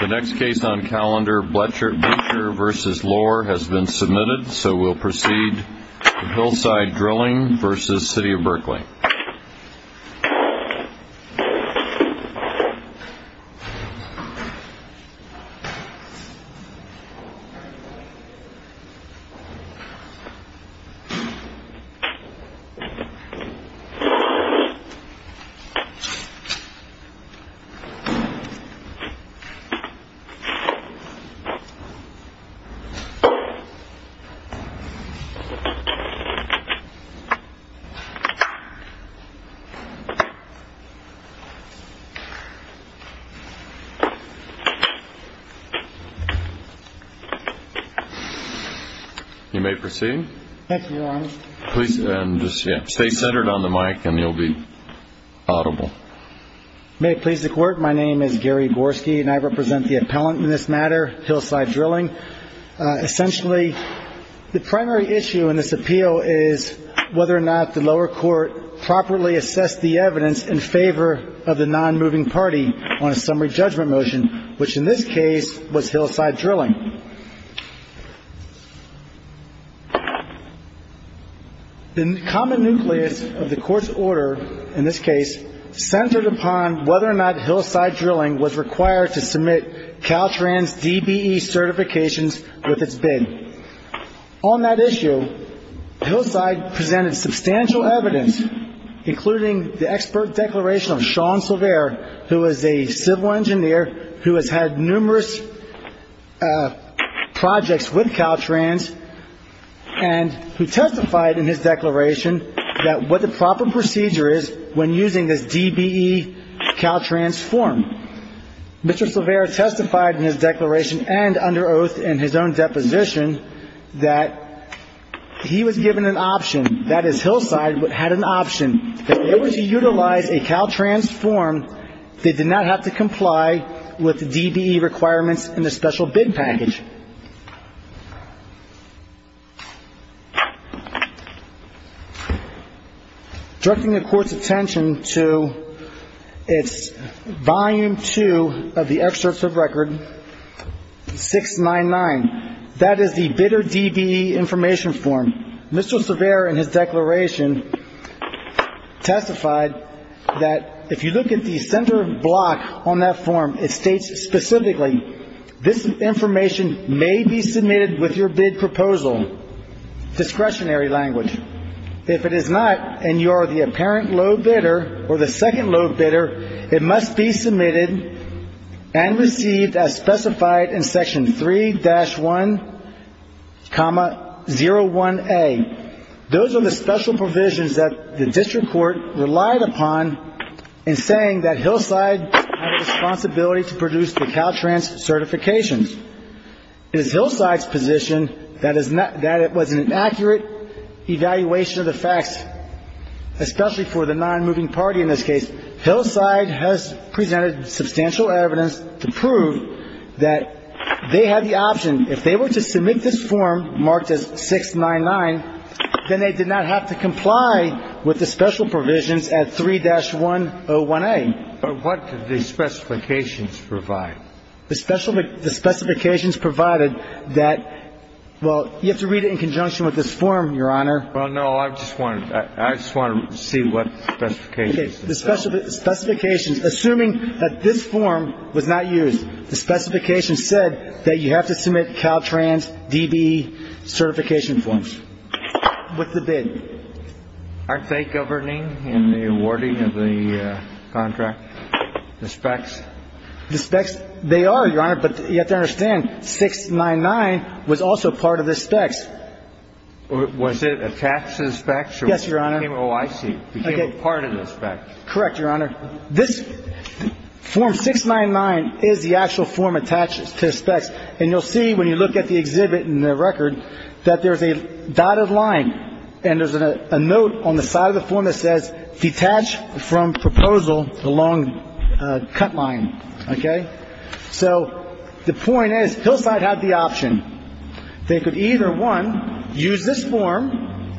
The next case on calendar, Blecher v. Lohr, has been submitted, so we'll proceed to Hillside Drilling v. City of Berkeley. You may proceed. Thank you, Your Honor. Please, and just stay centered on the mic and you'll be audible. May it please the Court, my name is Gary Borski and I represent the appellant in this matter, Hillside Drilling. Essentially, the primary issue in this appeal is whether or not the lower court properly assessed the evidence in favor of the non-moving party on a summary judgment motion, which in this case was Hillside Drilling. The common nucleus of the Court's order in this case centered upon whether or not Hillside Drilling was required to submit Caltrans DBE certifications with its bid. On that issue, Hillside presented substantial evidence, including the expert declaration of Sean Silvera, who is a civil engineer who has had numerous projects with Caltrans, and who testified in his declaration that what the proper procedure is when using this DBE Caltrans form. Mr. Silvera testified in his declaration and under oath in his own deposition that he was given an option, that is, Hillside had an option, that in order to utilize a Caltrans form, they did not have to comply with the DBE requirements in the special bid package. Directing the Court's attention to its volume two of the excerpts of record 699, that is, the bidder DBE information form, Mr. Silvera in his declaration testified that if you look at the center block on that form, it states specifically, this information may be submitted with your bid proposal, discretionary language. If it is not, and you are the apparent low bidder or the second low bidder, it must be submitted and received as specified in Section 3-1, 0-1A. Those are the special provisions that the District Court relied upon in saying that Hillside had a responsibility to produce the Caltrans certifications. It is Hillside's position that it was an accurate evaluation of the facts, especially for the non-moving party in this case. Hillside has presented substantial evidence to prove that they had the option, if they were to submit this form marked as 699, then they did not have to comply with the special provisions at 3-1, 0-1A. But what did the specifications provide? The specifications provided that, well, you have to read it in conjunction with this form, Your Honor. Well, no, I just wanted to see what the specifications said. The specifications, assuming that this form was not used, the specifications said that you have to submit Caltrans DBE certification forms with the bid. Aren't they governing in the awarding of the contract, the specs? The specs, they are, Your Honor, but you have to understand, 699 was also part of the specs. Was it attached to the specs? Yes, Your Honor. Oh, I see. Became a part of the specs. Correct, Your Honor. This form 699 is the actual form attached to the specs. And you'll see when you look at the exhibit and the record that there's a dotted line and there's a note on the side of the form that says, detach from proposal the long cut line. Okay? So the point is Hillside had the option. They could either, one, use this form,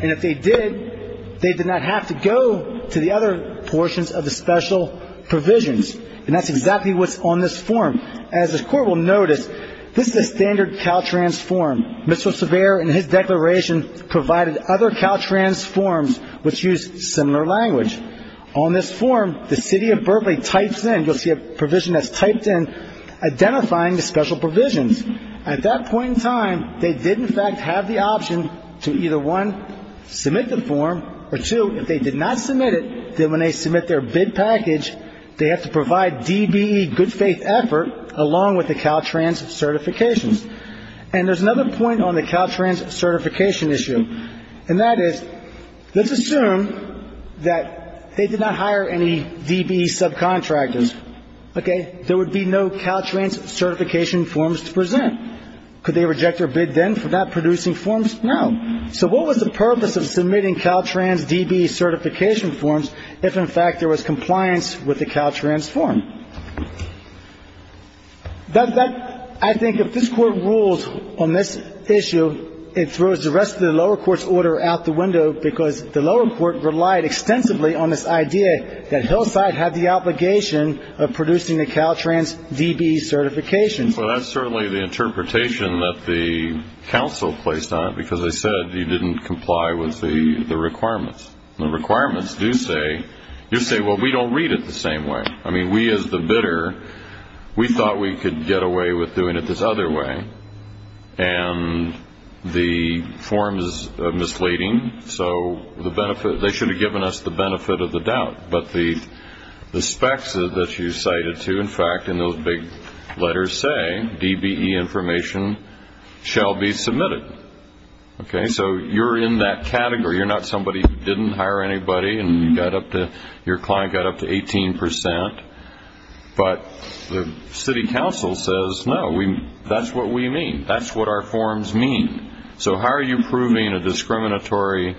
and if they did, they did not have to go to the other portions of the special provisions. And that's exactly what's on this form. As the Court will notice, this is a standard Caltrans form. Mr. Servere, in his declaration, provided other Caltrans forms which used similar language. On this form, the city of Berkeley types in, you'll see a provision that's typed in, identifying the special provisions. At that point in time, they did, in fact, have the option to either, one, submit the form, or two, if they did not submit it, then when they submit their bid package, they have to provide DBE good faith effort along with the Caltrans certifications. And there's another point on the Caltrans certification issue, and that is let's assume that they did not hire any DBE subcontractors. Okay? There would be no Caltrans certification forms to present. Could they reject their bid then for not producing forms? No. So what was the purpose of submitting Caltrans DBE certification forms if, in fact, there was compliance with the Caltrans form? I think if this Court rules on this issue, it throws the rest of the lower court's order out the window, because the lower court relied extensively on this idea that Hillside had the obligation of producing the Caltrans DBE certification. Well, that's certainly the interpretation that the counsel placed on it, because they said you didn't comply with the requirements. The requirements do say, you say, well, we don't read it the same way. I mean, we as the bidder, we thought we could get away with doing it this other way. And the forms are misleading, so they should have given us the benefit of the doubt. But the specs that you cited, too, in fact, in those big letters say DBE information shall be submitted. Okay? So you're in that category. You're not somebody who didn't hire anybody and your client got up to 18 percent. But the city council says, no, that's what we mean. That's what our forms mean. So how are you proving a discriminatory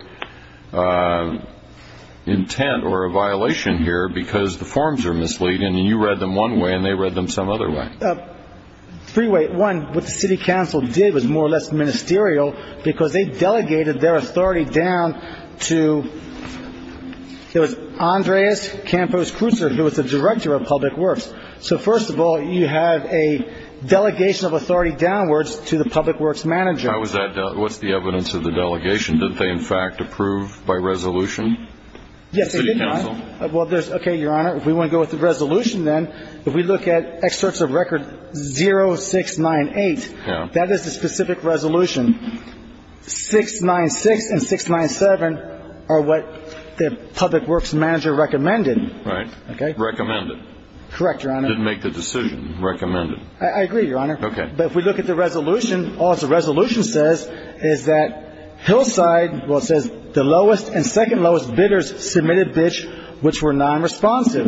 intent or a violation here because the forms are misleading and you read them one way and they read them some other way? Three ways. One, what the city council did was more or less ministerial, because they delegated their authority down to Andreas Campos-Kruser, who was the director of Public Works. So, first of all, you have a delegation of authority downwards to the Public Works manager. What's the evidence of the delegation? Did they, in fact, approve by resolution? Yes, they did not. The city council? Okay, Your Honor, if we want to go with the resolution then, if we look at excerpts of record 0698, that is the specific resolution. 696 and 697 are what the Public Works manager recommended. Right. Recommended. Correct, Your Honor. Didn't make the decision. Recommended. I agree, Your Honor. Okay. But if we look at the resolution, all the resolution says is that Hillside, well, it says the lowest and second lowest bidders submitted which were nonresponsive.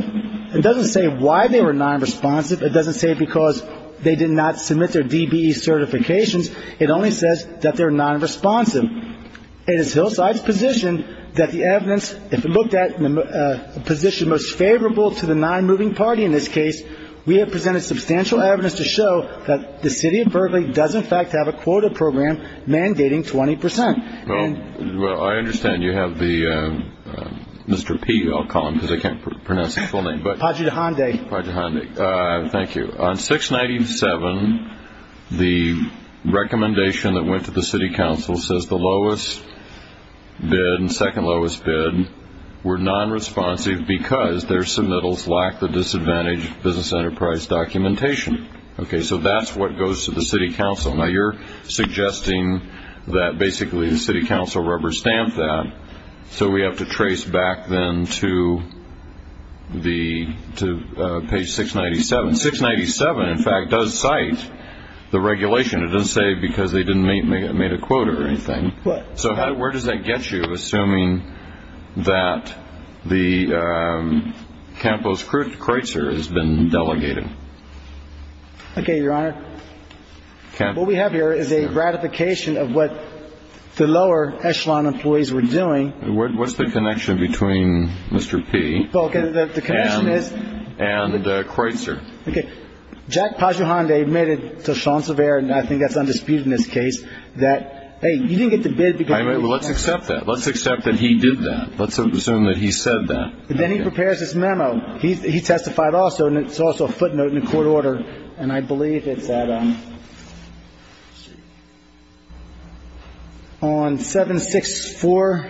It doesn't say why they were nonresponsive. It doesn't say because they did not submit their DBE certifications. It only says that they're nonresponsive. It is Hillside's position that the evidence, if it looked at in a position most favorable to the nonmoving party in this case, we have presented substantial evidence to show that the city of Berkeley does, in fact, have a quota program mandating 20 percent. Well, I understand you have the Mr. P, I'll call him because I can't pronounce his full name. Padre de Honde. Padre de Honde. Thank you. So on 697, the recommendation that went to the city council says the lowest bid and second lowest bid were nonresponsive because their submittals lacked the disadvantaged business enterprise documentation. Okay, so that's what goes to the city council. Now you're suggesting that basically the city council rubber stamped that, so we have to trace back then to page 697. 697, in fact, does cite the regulation. It doesn't say because they didn't make a quota or anything. So where does that get you, assuming that the Campos Kreutzer has been delegated? Okay, Your Honor. What we have here is a ratification of what the lower echelon employees were doing. What's the connection between Mr. P and Kreutzer? Okay. Jack Padre de Honde admitted to Sean Sevier, and I think that's undisputed in this case, that, hey, you didn't get the bid because you didn't get the answer. All right, well, let's accept that. Let's accept that he did that. Let's assume that he said that. Then he prepares his memo. He testified also, and it's also a footnote in the court order, and I believe it's at on 764,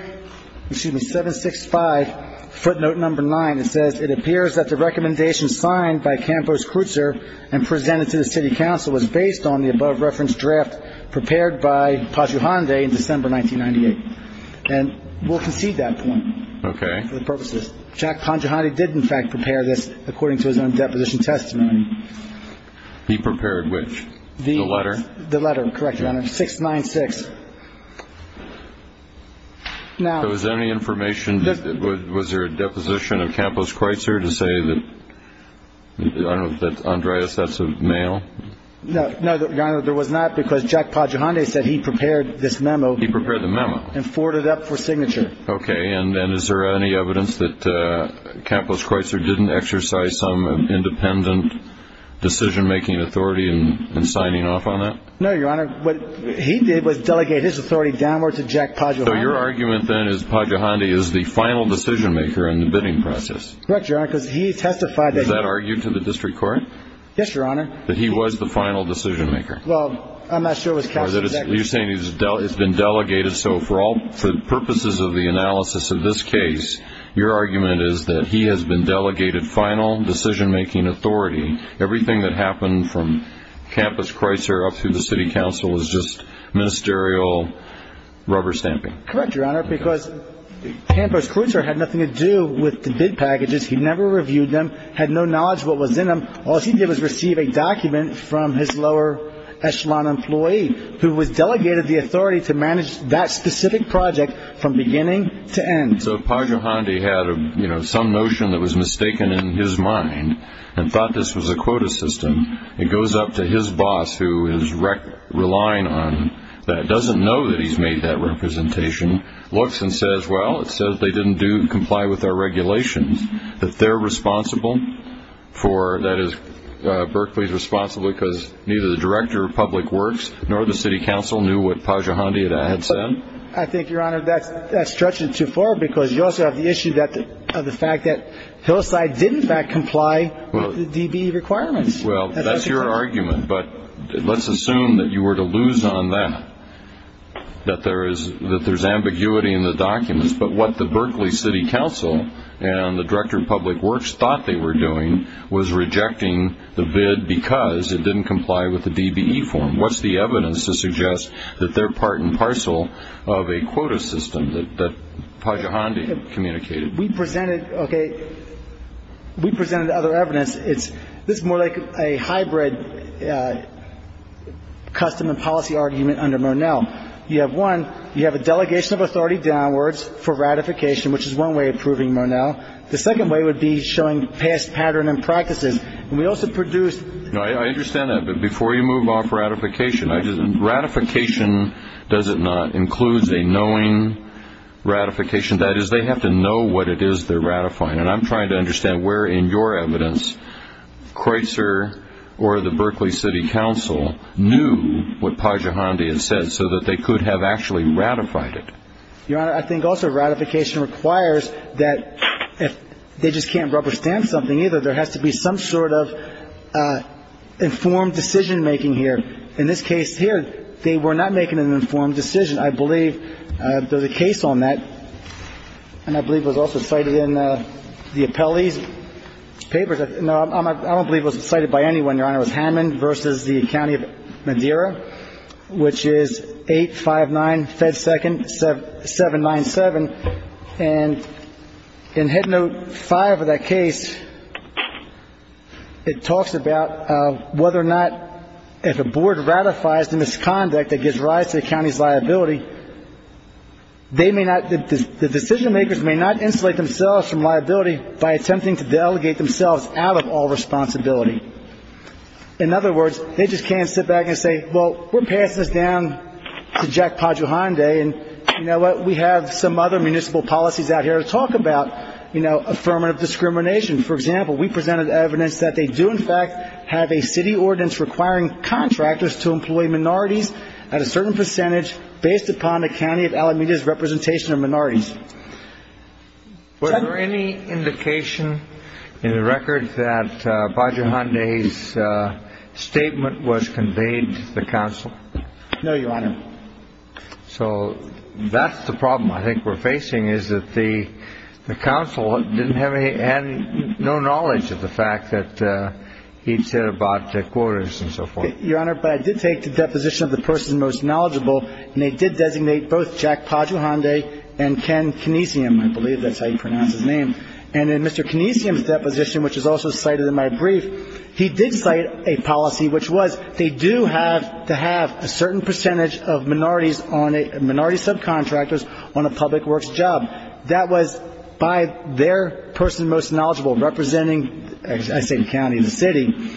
excuse me, 765, footnote number 9. It says, it appears that the recommendation signed by Campos Kreutzer and presented to the city council was based on the above-reference draft prepared by Padre de Honde in December 1998. And we'll concede that point for the purposes. Jack Padre de Honde did, in fact, prepare this according to his own deposition testimony. He prepared which? The letter? The letter, correct, Your Honor, 696. Now. Was there any information? Was there a deposition of Campos Kreutzer to say that, I don't know, that Andreas, that's a male? No, Your Honor, there was not because Jack Padre de Honde said he prepared this memo. He prepared the memo. And forwarded it up for signature. Okay. And is there any evidence that Campos Kreutzer didn't exercise some independent decision-making authority in signing off on that? No, Your Honor. What he did was delegate his authority downward to Jack Padre de Honde. So your argument, then, is Padre de Honde is the final decision-maker in the bidding process? Correct, Your Honor, because he testified that he was. Was that argued to the district court? Yes, Your Honor. That he was the final decision-maker? Well, I'm not sure it was cast. You're saying he's been delegated. So for all purposes of the analysis of this case, your argument is that he has been delegated final decision-making authority. Everything that happened from Campos Kreutzer up through the city council is just ministerial rubber stamping. Correct, Your Honor, because Campos Kreutzer had nothing to do with the bid packages. He never reviewed them, had no knowledge of what was in them. All he did was receive a document from his lower echelon employee, who was delegated the authority to manage that specific project from beginning to end. So if Padre de Honde had some notion that was mistaken in his mind and thought this was a quota system, it goes up to his boss, who is relying on that, doesn't know that he's made that representation, looks and says, well, it says they didn't comply with our regulations, that they're responsible for, that is, Berkeley's responsible because neither the director of public works nor the city council knew what Padre de Honde had said? I think, Your Honor, that's stretching it too far, because you also have the issue of the fact that Hillside did, in fact, comply with the DBE requirements. Well, that's your argument, but let's assume that you were to lose on that, that there's ambiguity in the documents. But what the Berkeley city council and the director of public works thought they were doing was rejecting the bid because it didn't comply with the DBE form. And what's the evidence to suggest that they're part and parcel of a quota system that Padre de Honde communicated? We presented other evidence. This is more like a hybrid custom and policy argument under Monell. You have one, you have a delegation of authority downwards for ratification, which is one way of proving Monell. The second way would be showing past pattern and practices. I understand that, but before you move off ratification, ratification, does it not, includes a knowing ratification? That is, they have to know what it is they're ratifying. And I'm trying to understand where in your evidence Creutzer or the Berkeley city council knew what Padre de Honde had said so that they could have actually ratified it. Your Honor, I think also ratification requires that if they just can't rubber stamp something either, there has to be some sort of informed decision-making here. In this case here, they were not making an informed decision. I believe there's a case on that, and I believe it was also cited in the Appellee's papers. No, I don't believe it was cited by anyone, Your Honor. It was Hammond v. the County of Madeira, which is 859-797. And in Head Note 5 of that case, it talks about whether or not if a board ratifies the misconduct that gives rise to the county's liability, they may not, the decision-makers may not insulate themselves from liability by attempting to delegate themselves out of all responsibility. In other words, they just can't sit back and say, well, we're passing this down to Jack Padre de Honde, and you know what, we have some other municipal policies out here to talk about affirmative discrimination. For example, we presented evidence that they do in fact have a city ordinance requiring contractors to employ minorities at a certain percentage based upon the county of Alameda's representation of minorities. Was there any indication in the record that Padre de Honde's statement was conveyed to the counsel? No, Your Honor. So that's the problem I think we're facing, is that the counsel didn't have any, had no knowledge of the fact that he'd said about the quotas and so forth. Your Honor, but I did take the deposition of the person most knowledgeable, and they did designate both Jack Padre de Honde and Ken Kinesium, I believe that's how you pronounce his name. And in Mr. Kinesium's deposition, which is also cited in my brief, he did cite a policy which was they do have to have a certain percentage of minorities on a, minority subcontractors on a public works job. That was by their person most knowledgeable representing, I say county, the city.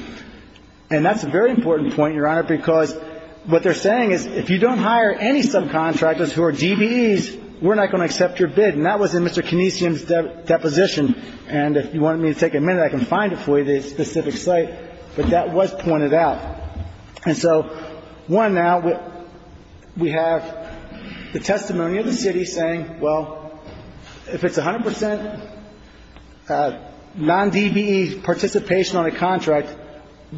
And that's a very important point, Your Honor, because what they're saying is if you don't hire any subcontractors who are DBEs, we're not going to accept your bid. And that was in Mr. Kinesium's deposition. And if you want me to take a minute, I can find it for you, the specific site. But that was pointed out. And so one now, we have the testimony of the city saying, well, if it's 100 percent non-DBE participation on a contract,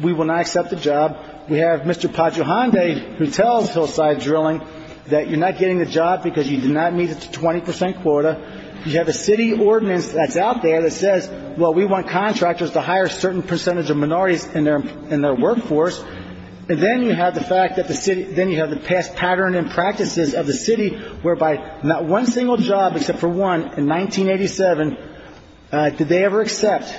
we will not accept the job. We have Mr. Padre de Honde who tells Hillside Drilling that you're not getting the job because you did not meet the 20 percent quota. You have a city ordinance that's out there that says, well, we want contractors to hire a certain percentage of minorities in their workforce. And then you have the fact that the city, then you have the past pattern and practices of the city whereby not one single job, except for one in 1987, did they ever accept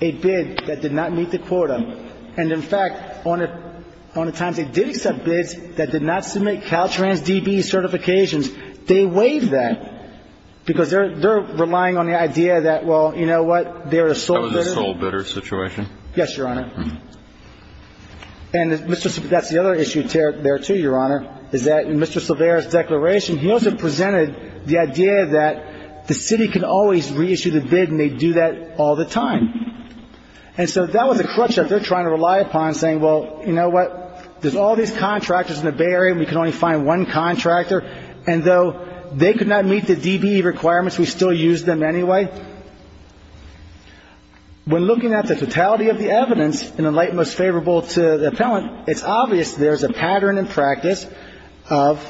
a bid that did not meet the quota. And in fact, on the times they did accept bids that did not submit Caltrans DBE certifications, they waived that because they're relying on the idea that, well, you know what, they're a sole bidder. That was a sole bidder situation? Yes, Your Honor. And that's the other issue there, too, Your Honor, is that in Mr. Silvera's declaration, he also presented the idea that the city can always reissue the bid and they do that all the time. And so that was a crutch that they're trying to rely upon, saying, well, you know what, there's all these contractors in the Bay Area and we can only find one contractor, and though they could not meet the DBE requirements, we still use them anyway. When looking at the totality of the evidence in the light most favorable to the appellant, it's obvious there's a pattern and practice of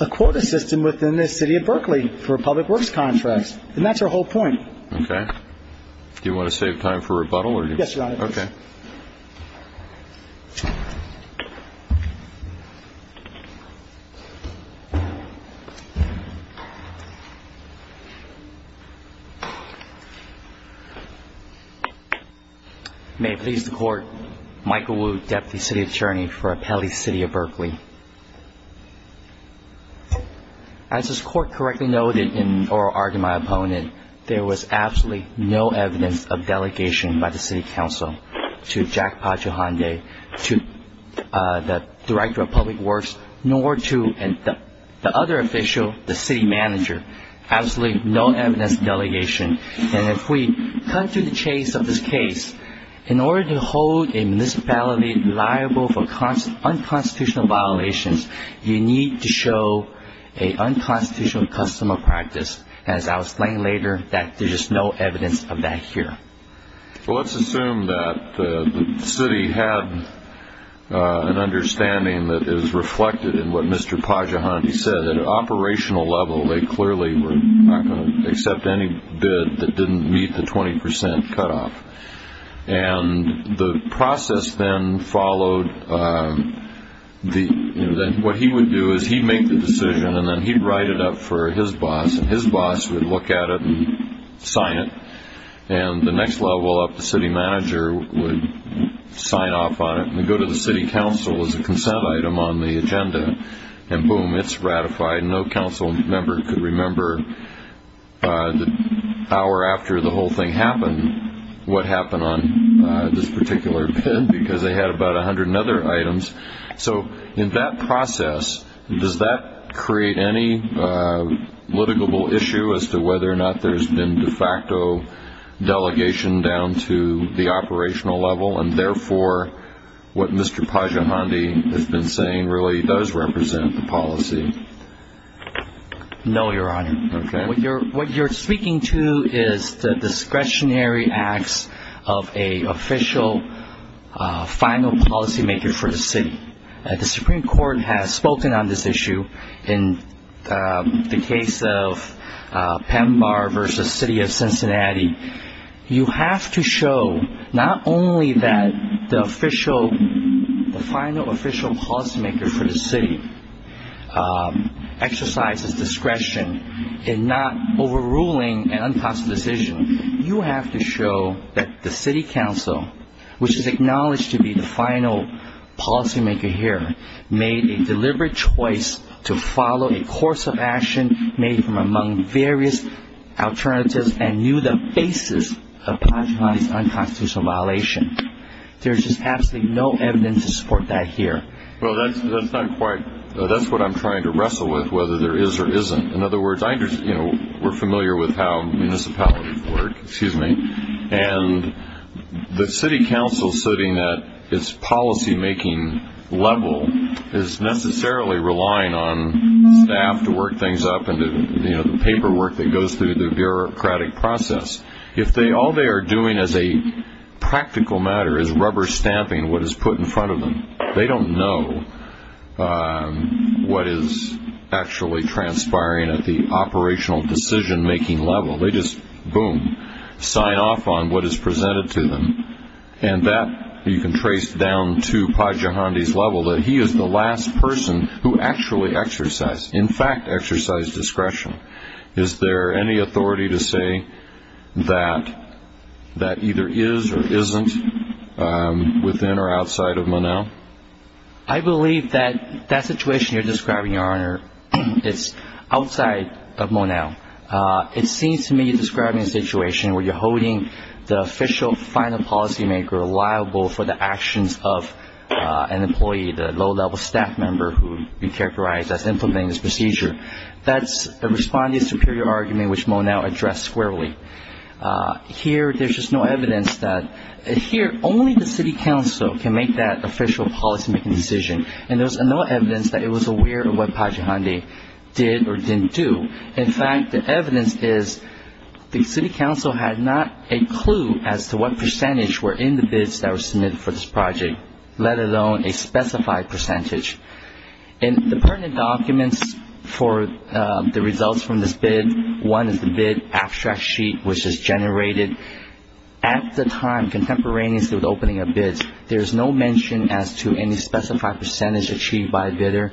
a quota system within the city of Berkeley for public works contracts. And that's her whole point. Okay. Do you want to save time for rebuttal? Yes, Your Honor. Okay. May it please the Court, Michael Wu, Deputy City Attorney for Appellee City of Berkeley. As this Court correctly noted in oral argument of my opponent, there was absolutely no evidence of delegation by the City Council to Jack Pagio-Honday, to the Director of Public Works, nor to the other official, the City Manager. Absolutely no evidence of delegation. And if we cut to the chase of this case, in order to hold a municipality liable for unconstitutional violations, you need to show an unconstitutional customer practice. As I'll explain later, there's just no evidence of that here. Well, let's assume that the city had an understanding that is reflected in what Mr. Pagio-Honday said. At an operational level, they clearly were not going to accept any bid that didn't meet the 20% cutoff. And the process then followed. What he would do is he'd make the decision, and then he'd write it up for his boss, and his boss would look at it and sign it. And the next level up, the City Manager would sign off on it, and go to the City Council as a consent item on the agenda. And boom, it's ratified. No council member could remember the hour after the whole thing happened, what happened on this particular bid, because they had about 100 other items. So in that process, does that create any litigable issue as to whether or not there's been de facto delegation down to the operational level, and therefore what Mr. Pagio-Honday has been saying really does represent the policy? No, Your Honor. Okay. What you're speaking to is the discretionary acts of an official final policymaker for the city. The Supreme Court has spoken on this issue in the case of Pembar v. City of Cincinnati. You have to show not only that the final official policymaker for the city exercises discretion in not overruling an unconstitutional decision, you have to show that the City Council, which is acknowledged to be the final policymaker here, made a deliberate choice to follow a course of action made from among various alternatives and knew the basis of Pagio-Honday's unconstitutional violation. There's just absolutely no evidence to support that here. Well, that's what I'm trying to wrestle with, whether there is or isn't. In other words, we're familiar with how municipalities work, and the City Council sitting at its policymaking level is necessarily relying on staff to work things up and the paperwork that goes through the bureaucratic process. If all they are doing as a practical matter is rubber-stamping what is put in front of them, they don't know what is actually transpiring at the operational decision-making level. They just, boom, sign off on what is presented to them, and that you can trace down to Pagio-Honday's level that he is the last person who actually exercised, in fact, exercised discretion. Is there any authority to say that that either is or isn't within or outside of Mon-El? I believe that that situation you're describing, Your Honor, is outside of Mon-El. It seems to me you're describing a situation where you're holding the official final policymaker liable for the actions of an employee, the low-level staff member who you characterize as implementing this procedure. That's a responding superior argument, which Mon-El addressed squarely. Here, there's just no evidence that, here, only the City Council can make that official policymaking decision, and there's no evidence that it was aware of what Pagio-Honday did or didn't do. In fact, the evidence is the City Council had not a clue as to what percentage were in the bids that were submitted for this project, let alone a specified percentage. In the pertinent documents for the results from this bid, one is the bid abstract sheet, which is generated at the time, contemporaneously with the opening of bids. There is no mention as to any specified percentage achieved by a bidder.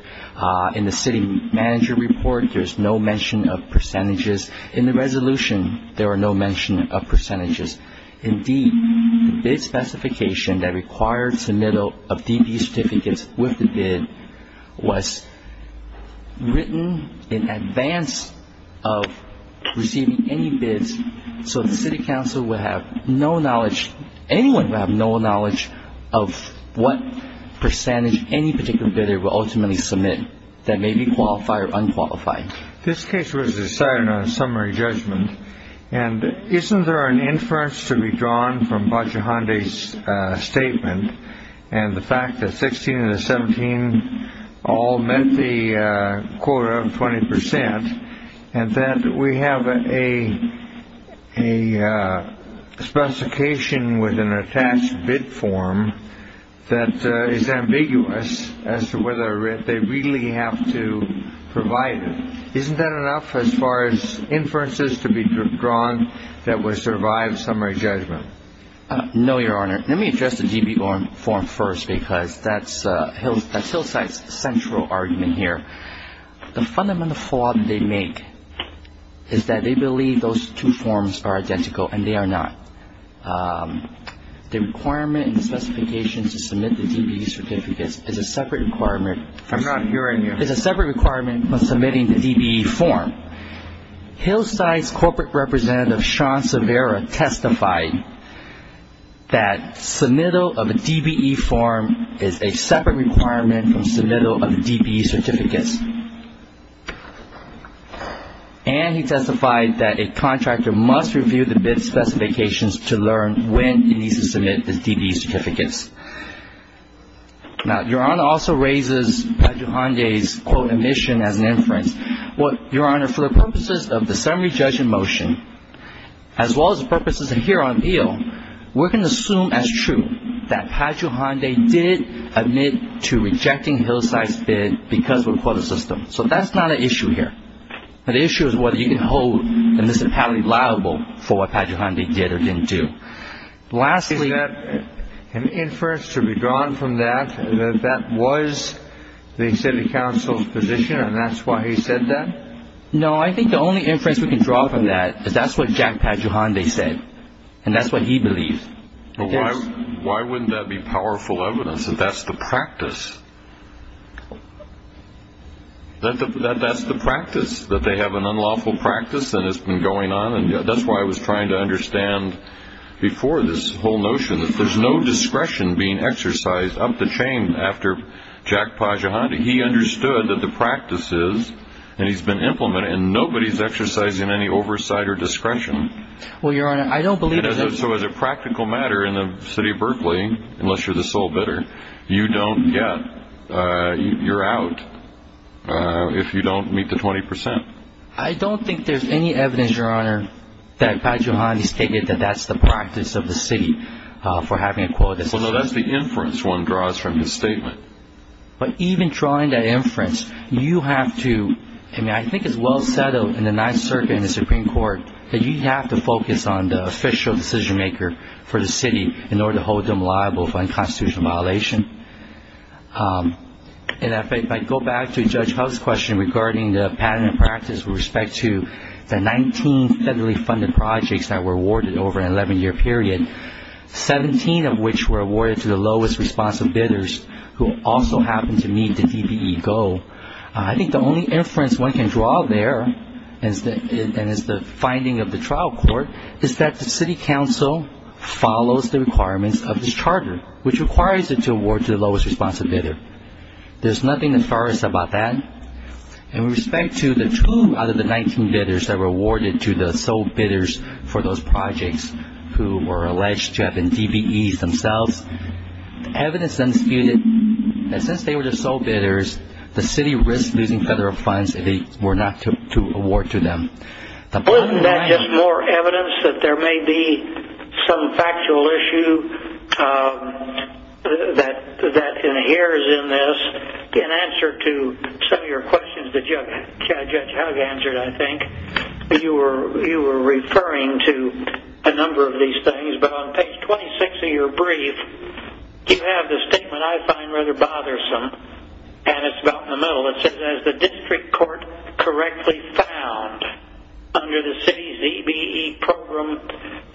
In the City Manager report, there's no mention of percentages. In the resolution, there are no mention of percentages. Indeed, the bid specification that requires the middle of DP certificates with the bid was written in advance of receiving any bids, so the City Council would have no knowledge, anyone would have no knowledge, of what percentage any particular bidder will ultimately submit that may be qualified or unqualified. This case was decided on a summary judgment, and isn't there an inference to be drawn from Pagio-Honday's statement and the fact that 16 and the 17 all met the quota of 20 percent, and that we have a specification with an attached bid form that is ambiguous as to whether they really have to provide it? Isn't that enough as far as inferences to be drawn that would survive summary judgment? No, Your Honor. Let me address the DBE form first because that's Hillside's central argument here. The fundamental flaw that they make is that they believe those two forms are identical, and they are not. The requirement in the specifications to submit the DBE certificates is a separate requirement. I'm not hearing you. It's a separate requirement when submitting the DBE form. Hillside's corporate representative, Sean Severa, testified that submittal of a DBE form is a separate requirement from submittal of DBE certificates, and he testified that a contractor must review the bid specifications to learn when he needs to submit the DBE certificates. Now, Your Honor, also raises Pagio-Honday's, quote, omission as an inference. Well, Your Honor, for the purposes of the summary judgment motion, as well as the purposes here on the bill, we're going to assume as true that Pagio-Honday did admit to rejecting Hillside's bid because of a quota system. So that's not an issue here. The issue is whether you can hold the municipality liable for what Pagio-Honday did or didn't do. Is that an inference to be drawn from that, that that was the city council's position and that's why he said that? No, I think the only inference we can draw from that is that's what Jack Pagio-Honday said, and that's what he believes. Why wouldn't that be powerful evidence that that's the practice? That's the practice, that they have an unlawful practice that has been going on, and that's why I was trying to understand before this whole notion that there's no discretion being exercised up the chain after Jack Pagio-Honday. He understood that the practice is, and he's been implementing it, and nobody's exercising any oversight or discretion. Well, Your Honor, I don't believe that. So as a practical matter in the city of Berkeley, unless you're the sole bidder, you don't get, you're out if you don't meet the 20 percent. I don't think there's any evidence, Your Honor, that Pagio-Honday stated that that's the practice of the city for having a quota system. Well, no, that's the inference one draws from his statement. But even drawing that inference, you have to, I mean, I think it's well settled in the Ninth Circuit and the Supreme Court that you have to focus on the official decision-maker for the city in order to hold them liable for unconstitutional violation. And if I go back to Judge Powell's question regarding the pattern and practice with respect to the 19 federally funded projects that were awarded over an 11-year period, 17 of which were awarded to the lowest responsive bidders who also happened to meet the DBE goal, I think the only inference one can draw there, and it's the finding of the trial court, is that the city council follows the requirements of this charter, which requires it to award to the lowest responsive bidder. There's nothing nefarious about that. And with respect to the two out of the 19 bidders that were awarded to the sole bidders for those projects who were alleged to have been DBEs themselves, evidence then spewed that since they were the sole bidders, the city risked losing federal funds if they were not to award to them. Isn't that just more evidence that there may be some factual issue that inheres in this? In answer to some of your questions that Judge Hugg answered, I think, you were referring to a number of these things. But on page 26 of your brief, you have this statement I find rather bothersome, and it's about in the middle. It says, as the district court correctly found under the city's DBE program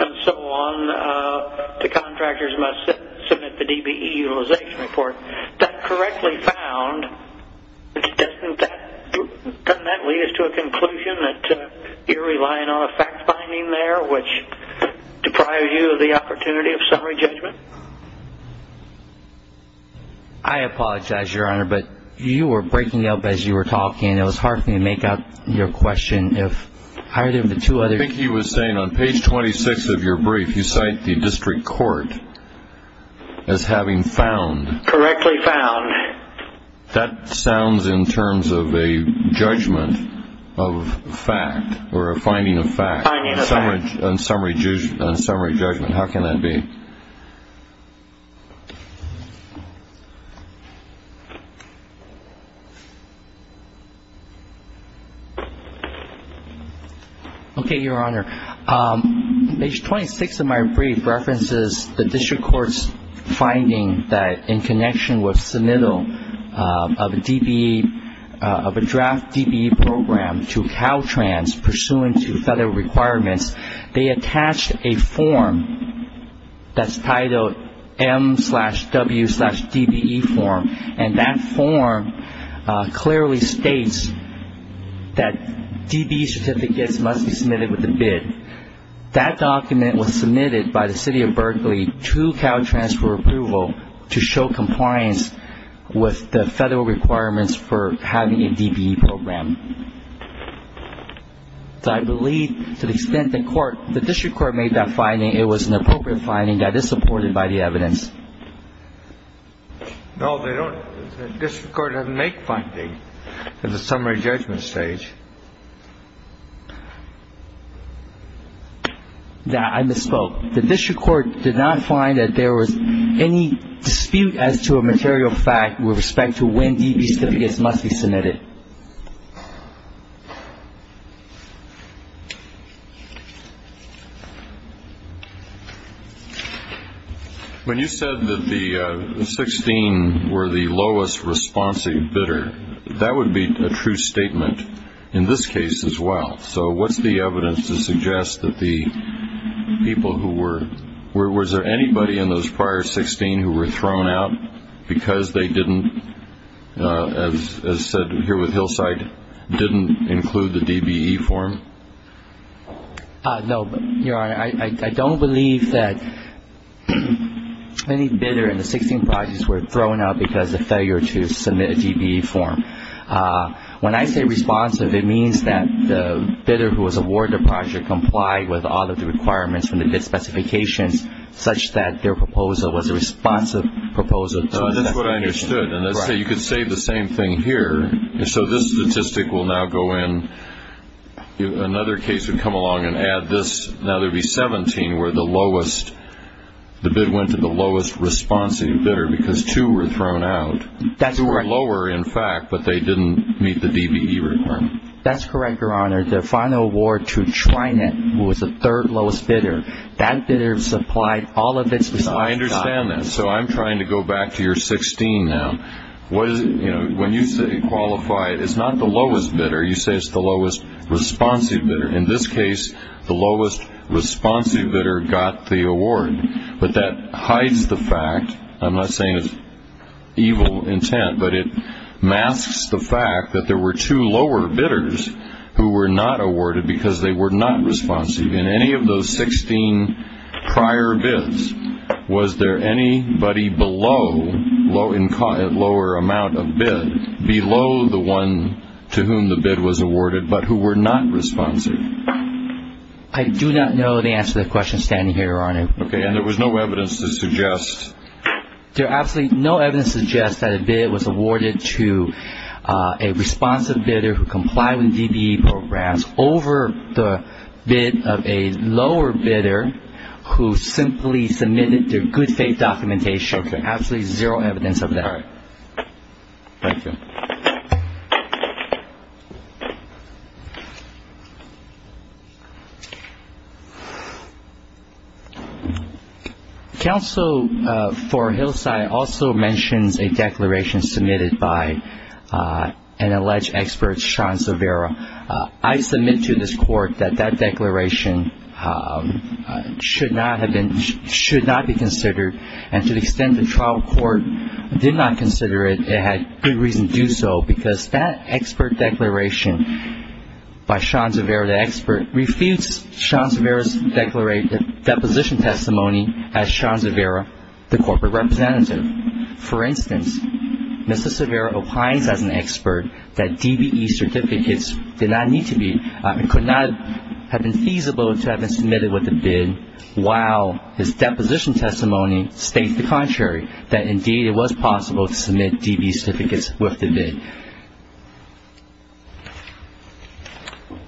and so on, the contractors must submit the DBE utilization report. That correctly found, doesn't that lead us to a conclusion that you're relying on a fact finding there, which deprives you of the opportunity of summary judgment? I apologize, Your Honor, but you were breaking up as you were talking. It was hard for me to make out your question. I think he was saying on page 26 of your brief, you cite the district court as having found. Correctly found. That sounds in terms of a judgment of fact or a finding of fact. A summary judgment. How can that be? Okay, Your Honor. Page 26 of my brief references the district court's finding that in connection with submittal of a DBE, of a draft DBE program to Caltrans pursuant to federal requirements, they attached a form that's titled M-W-DBE form, and that form clearly states that DBE certificates must be submitted with a bid. That document was submitted by the city of Berkeley to Caltrans for approval to show compliance with the federal requirements for having a DBE program. So I believe to the extent the court, the district court made that finding, it was an appropriate finding that is supported by the evidence. No, they don't. The district court doesn't make findings at the summary judgment stage. I misspoke. The district court did not find that there was any dispute as to a material fact with respect to when DBE certificates must be submitted. When you said that the 16 were the lowest responsive bidder, that would be a true statement in this case as well. So what's the evidence to suggest that the people who were, was there anybody in those prior 16 who were thrown out because they didn't, as said here with Hillside, didn't include the DBE form? No, Your Honor, I don't believe that any bidder in the 16 projects were thrown out because of failure to submit a DBE form. When I say responsive, it means that the bidder who was awarded the project complied with all of the requirements from the bid specifications such that their proposal was a responsive proposal. So that's what I understood. And let's say you could say the same thing here. So this statistic will now go in. Another case would come along and add this. Now there would be 17 where the lowest, the bid went to the lowest responsive bidder because two were thrown out. That's right. They were lower in fact, but they didn't meet the DBE requirement. That's correct, Your Honor. The final award to Trinet, who was the third lowest bidder, that bidder supplied all of its response time. I understand that. So I'm trying to go back to your 16 now. When you say qualified, it's not the lowest bidder. You say it's the lowest responsive bidder. In this case, the lowest responsive bidder got the award. But that hides the fact, I'm not saying it's evil intent, but it masks the fact that there were two lower bidders who were not awarded because they were not responsive in any of those 16 prior bids. Was there anybody below, at lower amount of bid, below the one to whom the bid was awarded but who were not responsive? I do not know the answer to that question standing here, Your Honor. Okay. And there was no evidence to suggest? There's absolutely no evidence to suggest that a bid was awarded to a responsive bidder who complied with DBE programs over the bid of a lower bidder who simply submitted their good faith documentation. There's absolutely zero evidence of that. All right. Thank you. Thank you. Counsel for Hillside also mentions a declaration submitted by an alleged expert, Sean Silvera. I submit to this Court that that declaration should not be considered, and to the extent the trial court did not consider it, it had good reason to do so because that expert declaration by Sean Silvera, the expert, refutes Sean Silvera's deposition testimony as Sean Silvera, the corporate representative. For instance, Mr. Silvera opines as an expert that DBE certificates did not need to be, and could not have been feasible to have been submitted with the bid, while his deposition testimony states the contrary, that indeed it was possible to submit DBE certificates with the bid.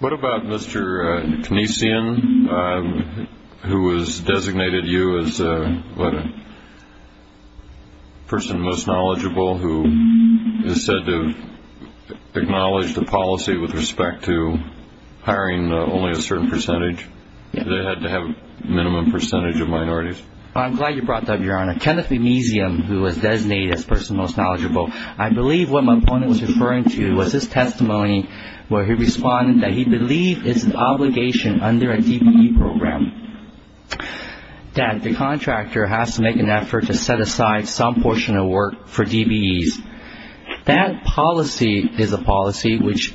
What about Mr. Knessian, who was designated you as a person most knowledgeable, who is said to acknowledge the policy with respect to hiring only a certain percentage, that they had to have a minimum percentage of minorities? I'm glad you brought that up, Your Honor. Kenneth McKnessian, who was designated as a person most knowledgeable, I believe what my opponent was referring to was his testimony where he responded that he believed it's an obligation under a DBE program that the contractor has to make an effort to set aside some portion of work for DBEs. That policy is a policy which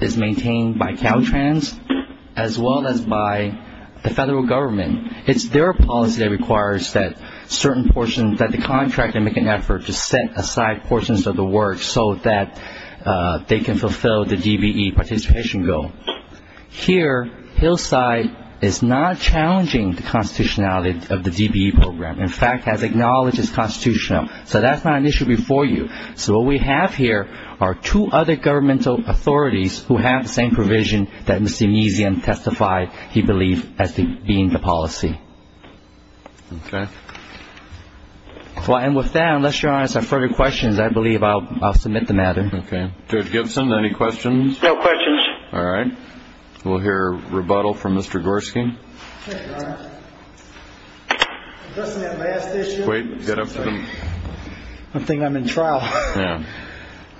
is maintained by Caltrans as well as by the federal government. It's their policy that requires that certain portions, that the contractor make an effort to set aside portions of the work so that they can fulfill the DBE participation goal. Here, Hillside is not challenging the constitutionality of the DBE program. In fact, has acknowledged it's constitutional. So that's not an issue before you. So what we have here are two other governmental authorities who have the same provision that Mr. Knessian testified he believed as being the policy. Okay. Well, and with that, unless Your Honor has further questions, I believe I'll submit the matter. Okay. Judge Gibson, any questions? No questions. All right. We'll hear rebuttal from Mr. Gorski. Thank you, Your Honor. Addressing that last issue. Wait, get up to the. I'm thinking I'm in trial. Yeah.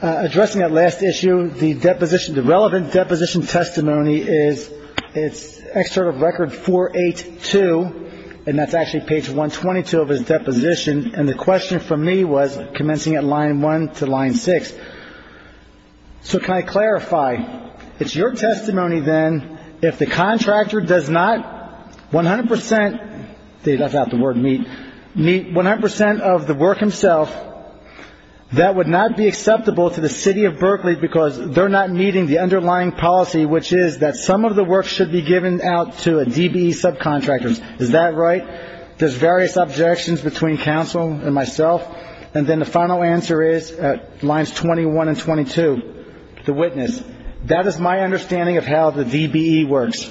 Addressing that last issue, the deposition, the relevant deposition testimony is, it's excerpt of record 482, and that's actually page 122 of his deposition, and the question for me was commencing at line 1 to line 6. So can I clarify? It's your testimony, then, if the contractor does not 100 percent, that's not the word meet, meet 100 percent of the work himself, that would not be acceptable to the City of Berkeley because they're not meeting the underlying policy, which is that some of the work should be given out to DBE subcontractors. Is that right? There's various objections between counsel and myself. And then the final answer is at lines 21 and 22, the witness. That is my understanding of how the DBE works.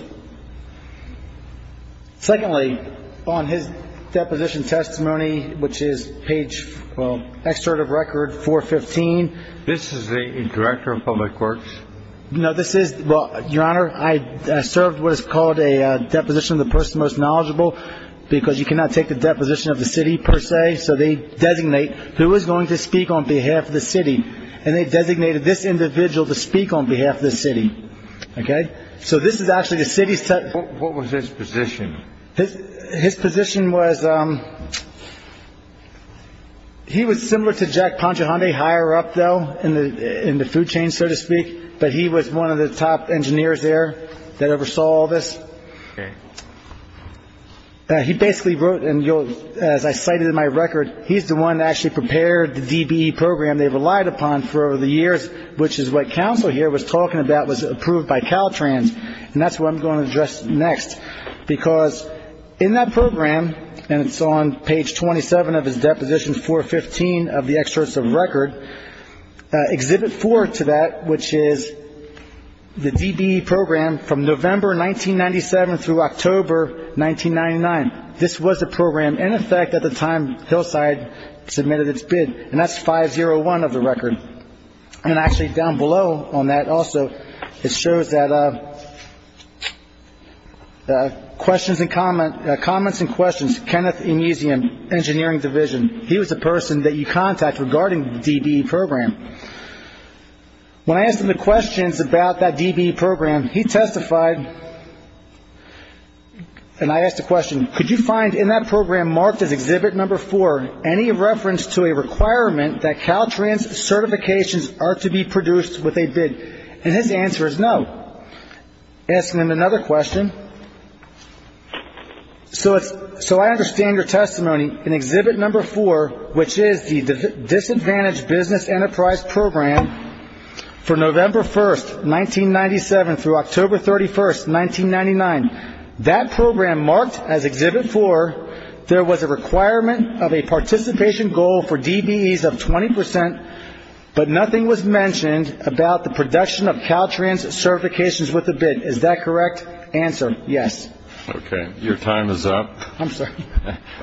Secondly, on his deposition testimony, which is page, well, excerpt of record 415. This is the Director of Public Works? No, this is, well, Your Honor, I served what is called a deposition of the person most knowledgeable because you cannot take the deposition of the city per se, so they designate who is going to speak on behalf of the city. And they designated this individual to speak on behalf of the city. Okay. So this is actually the city's. What was his position? His position was he was similar to Jack Ponchihonde higher up, though, in the food chain, so to speak. But he was one of the top engineers there that oversaw all this. Okay. He basically wrote, and as I cited in my record, he's the one that actually prepared the DBE program they relied upon for over the years, which is what counsel here was talking about was approved by Caltrans. And that's what I'm going to address next because in that program, and it's on page 27 of his deposition 415 of the excerpts of record, Exhibit 4 to that, which is the DBE program from November 1997 through October 1999. This was a program, in effect, at the time Hillside submitted its bid, and that's 501 of the record. And actually down below on that also, it shows that questions and comments, comments and questions, engineering division, he was the person that you contact regarding the DBE program. When I asked him the questions about that DBE program, he testified, and I asked a question, could you find in that program marked as Exhibit 4 any reference to a requirement that Caltrans certifications are to be produced with a bid? And his answer is no. I asked him another question. So I understand your testimony. In Exhibit 4, which is the Disadvantaged Business Enterprise Program, from November 1, 1997 through October 31, 1999, that program marked as Exhibit 4, there was a requirement of a participation goal for DBEs of 20 percent, but nothing was mentioned about the production of Caltrans certifications with a bid. Is that correct answer? Yes. Okay. Your time is up. I'm sorry.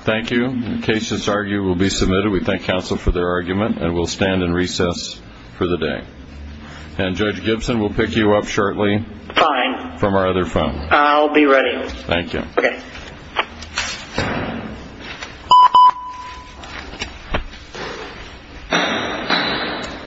Thank you. The cases argued will be submitted. We thank counsel for their argument, and we'll stand in recess for the day. And Judge Gibson, we'll pick you up shortly from our other phone. I'll be ready. Thank you. Okay.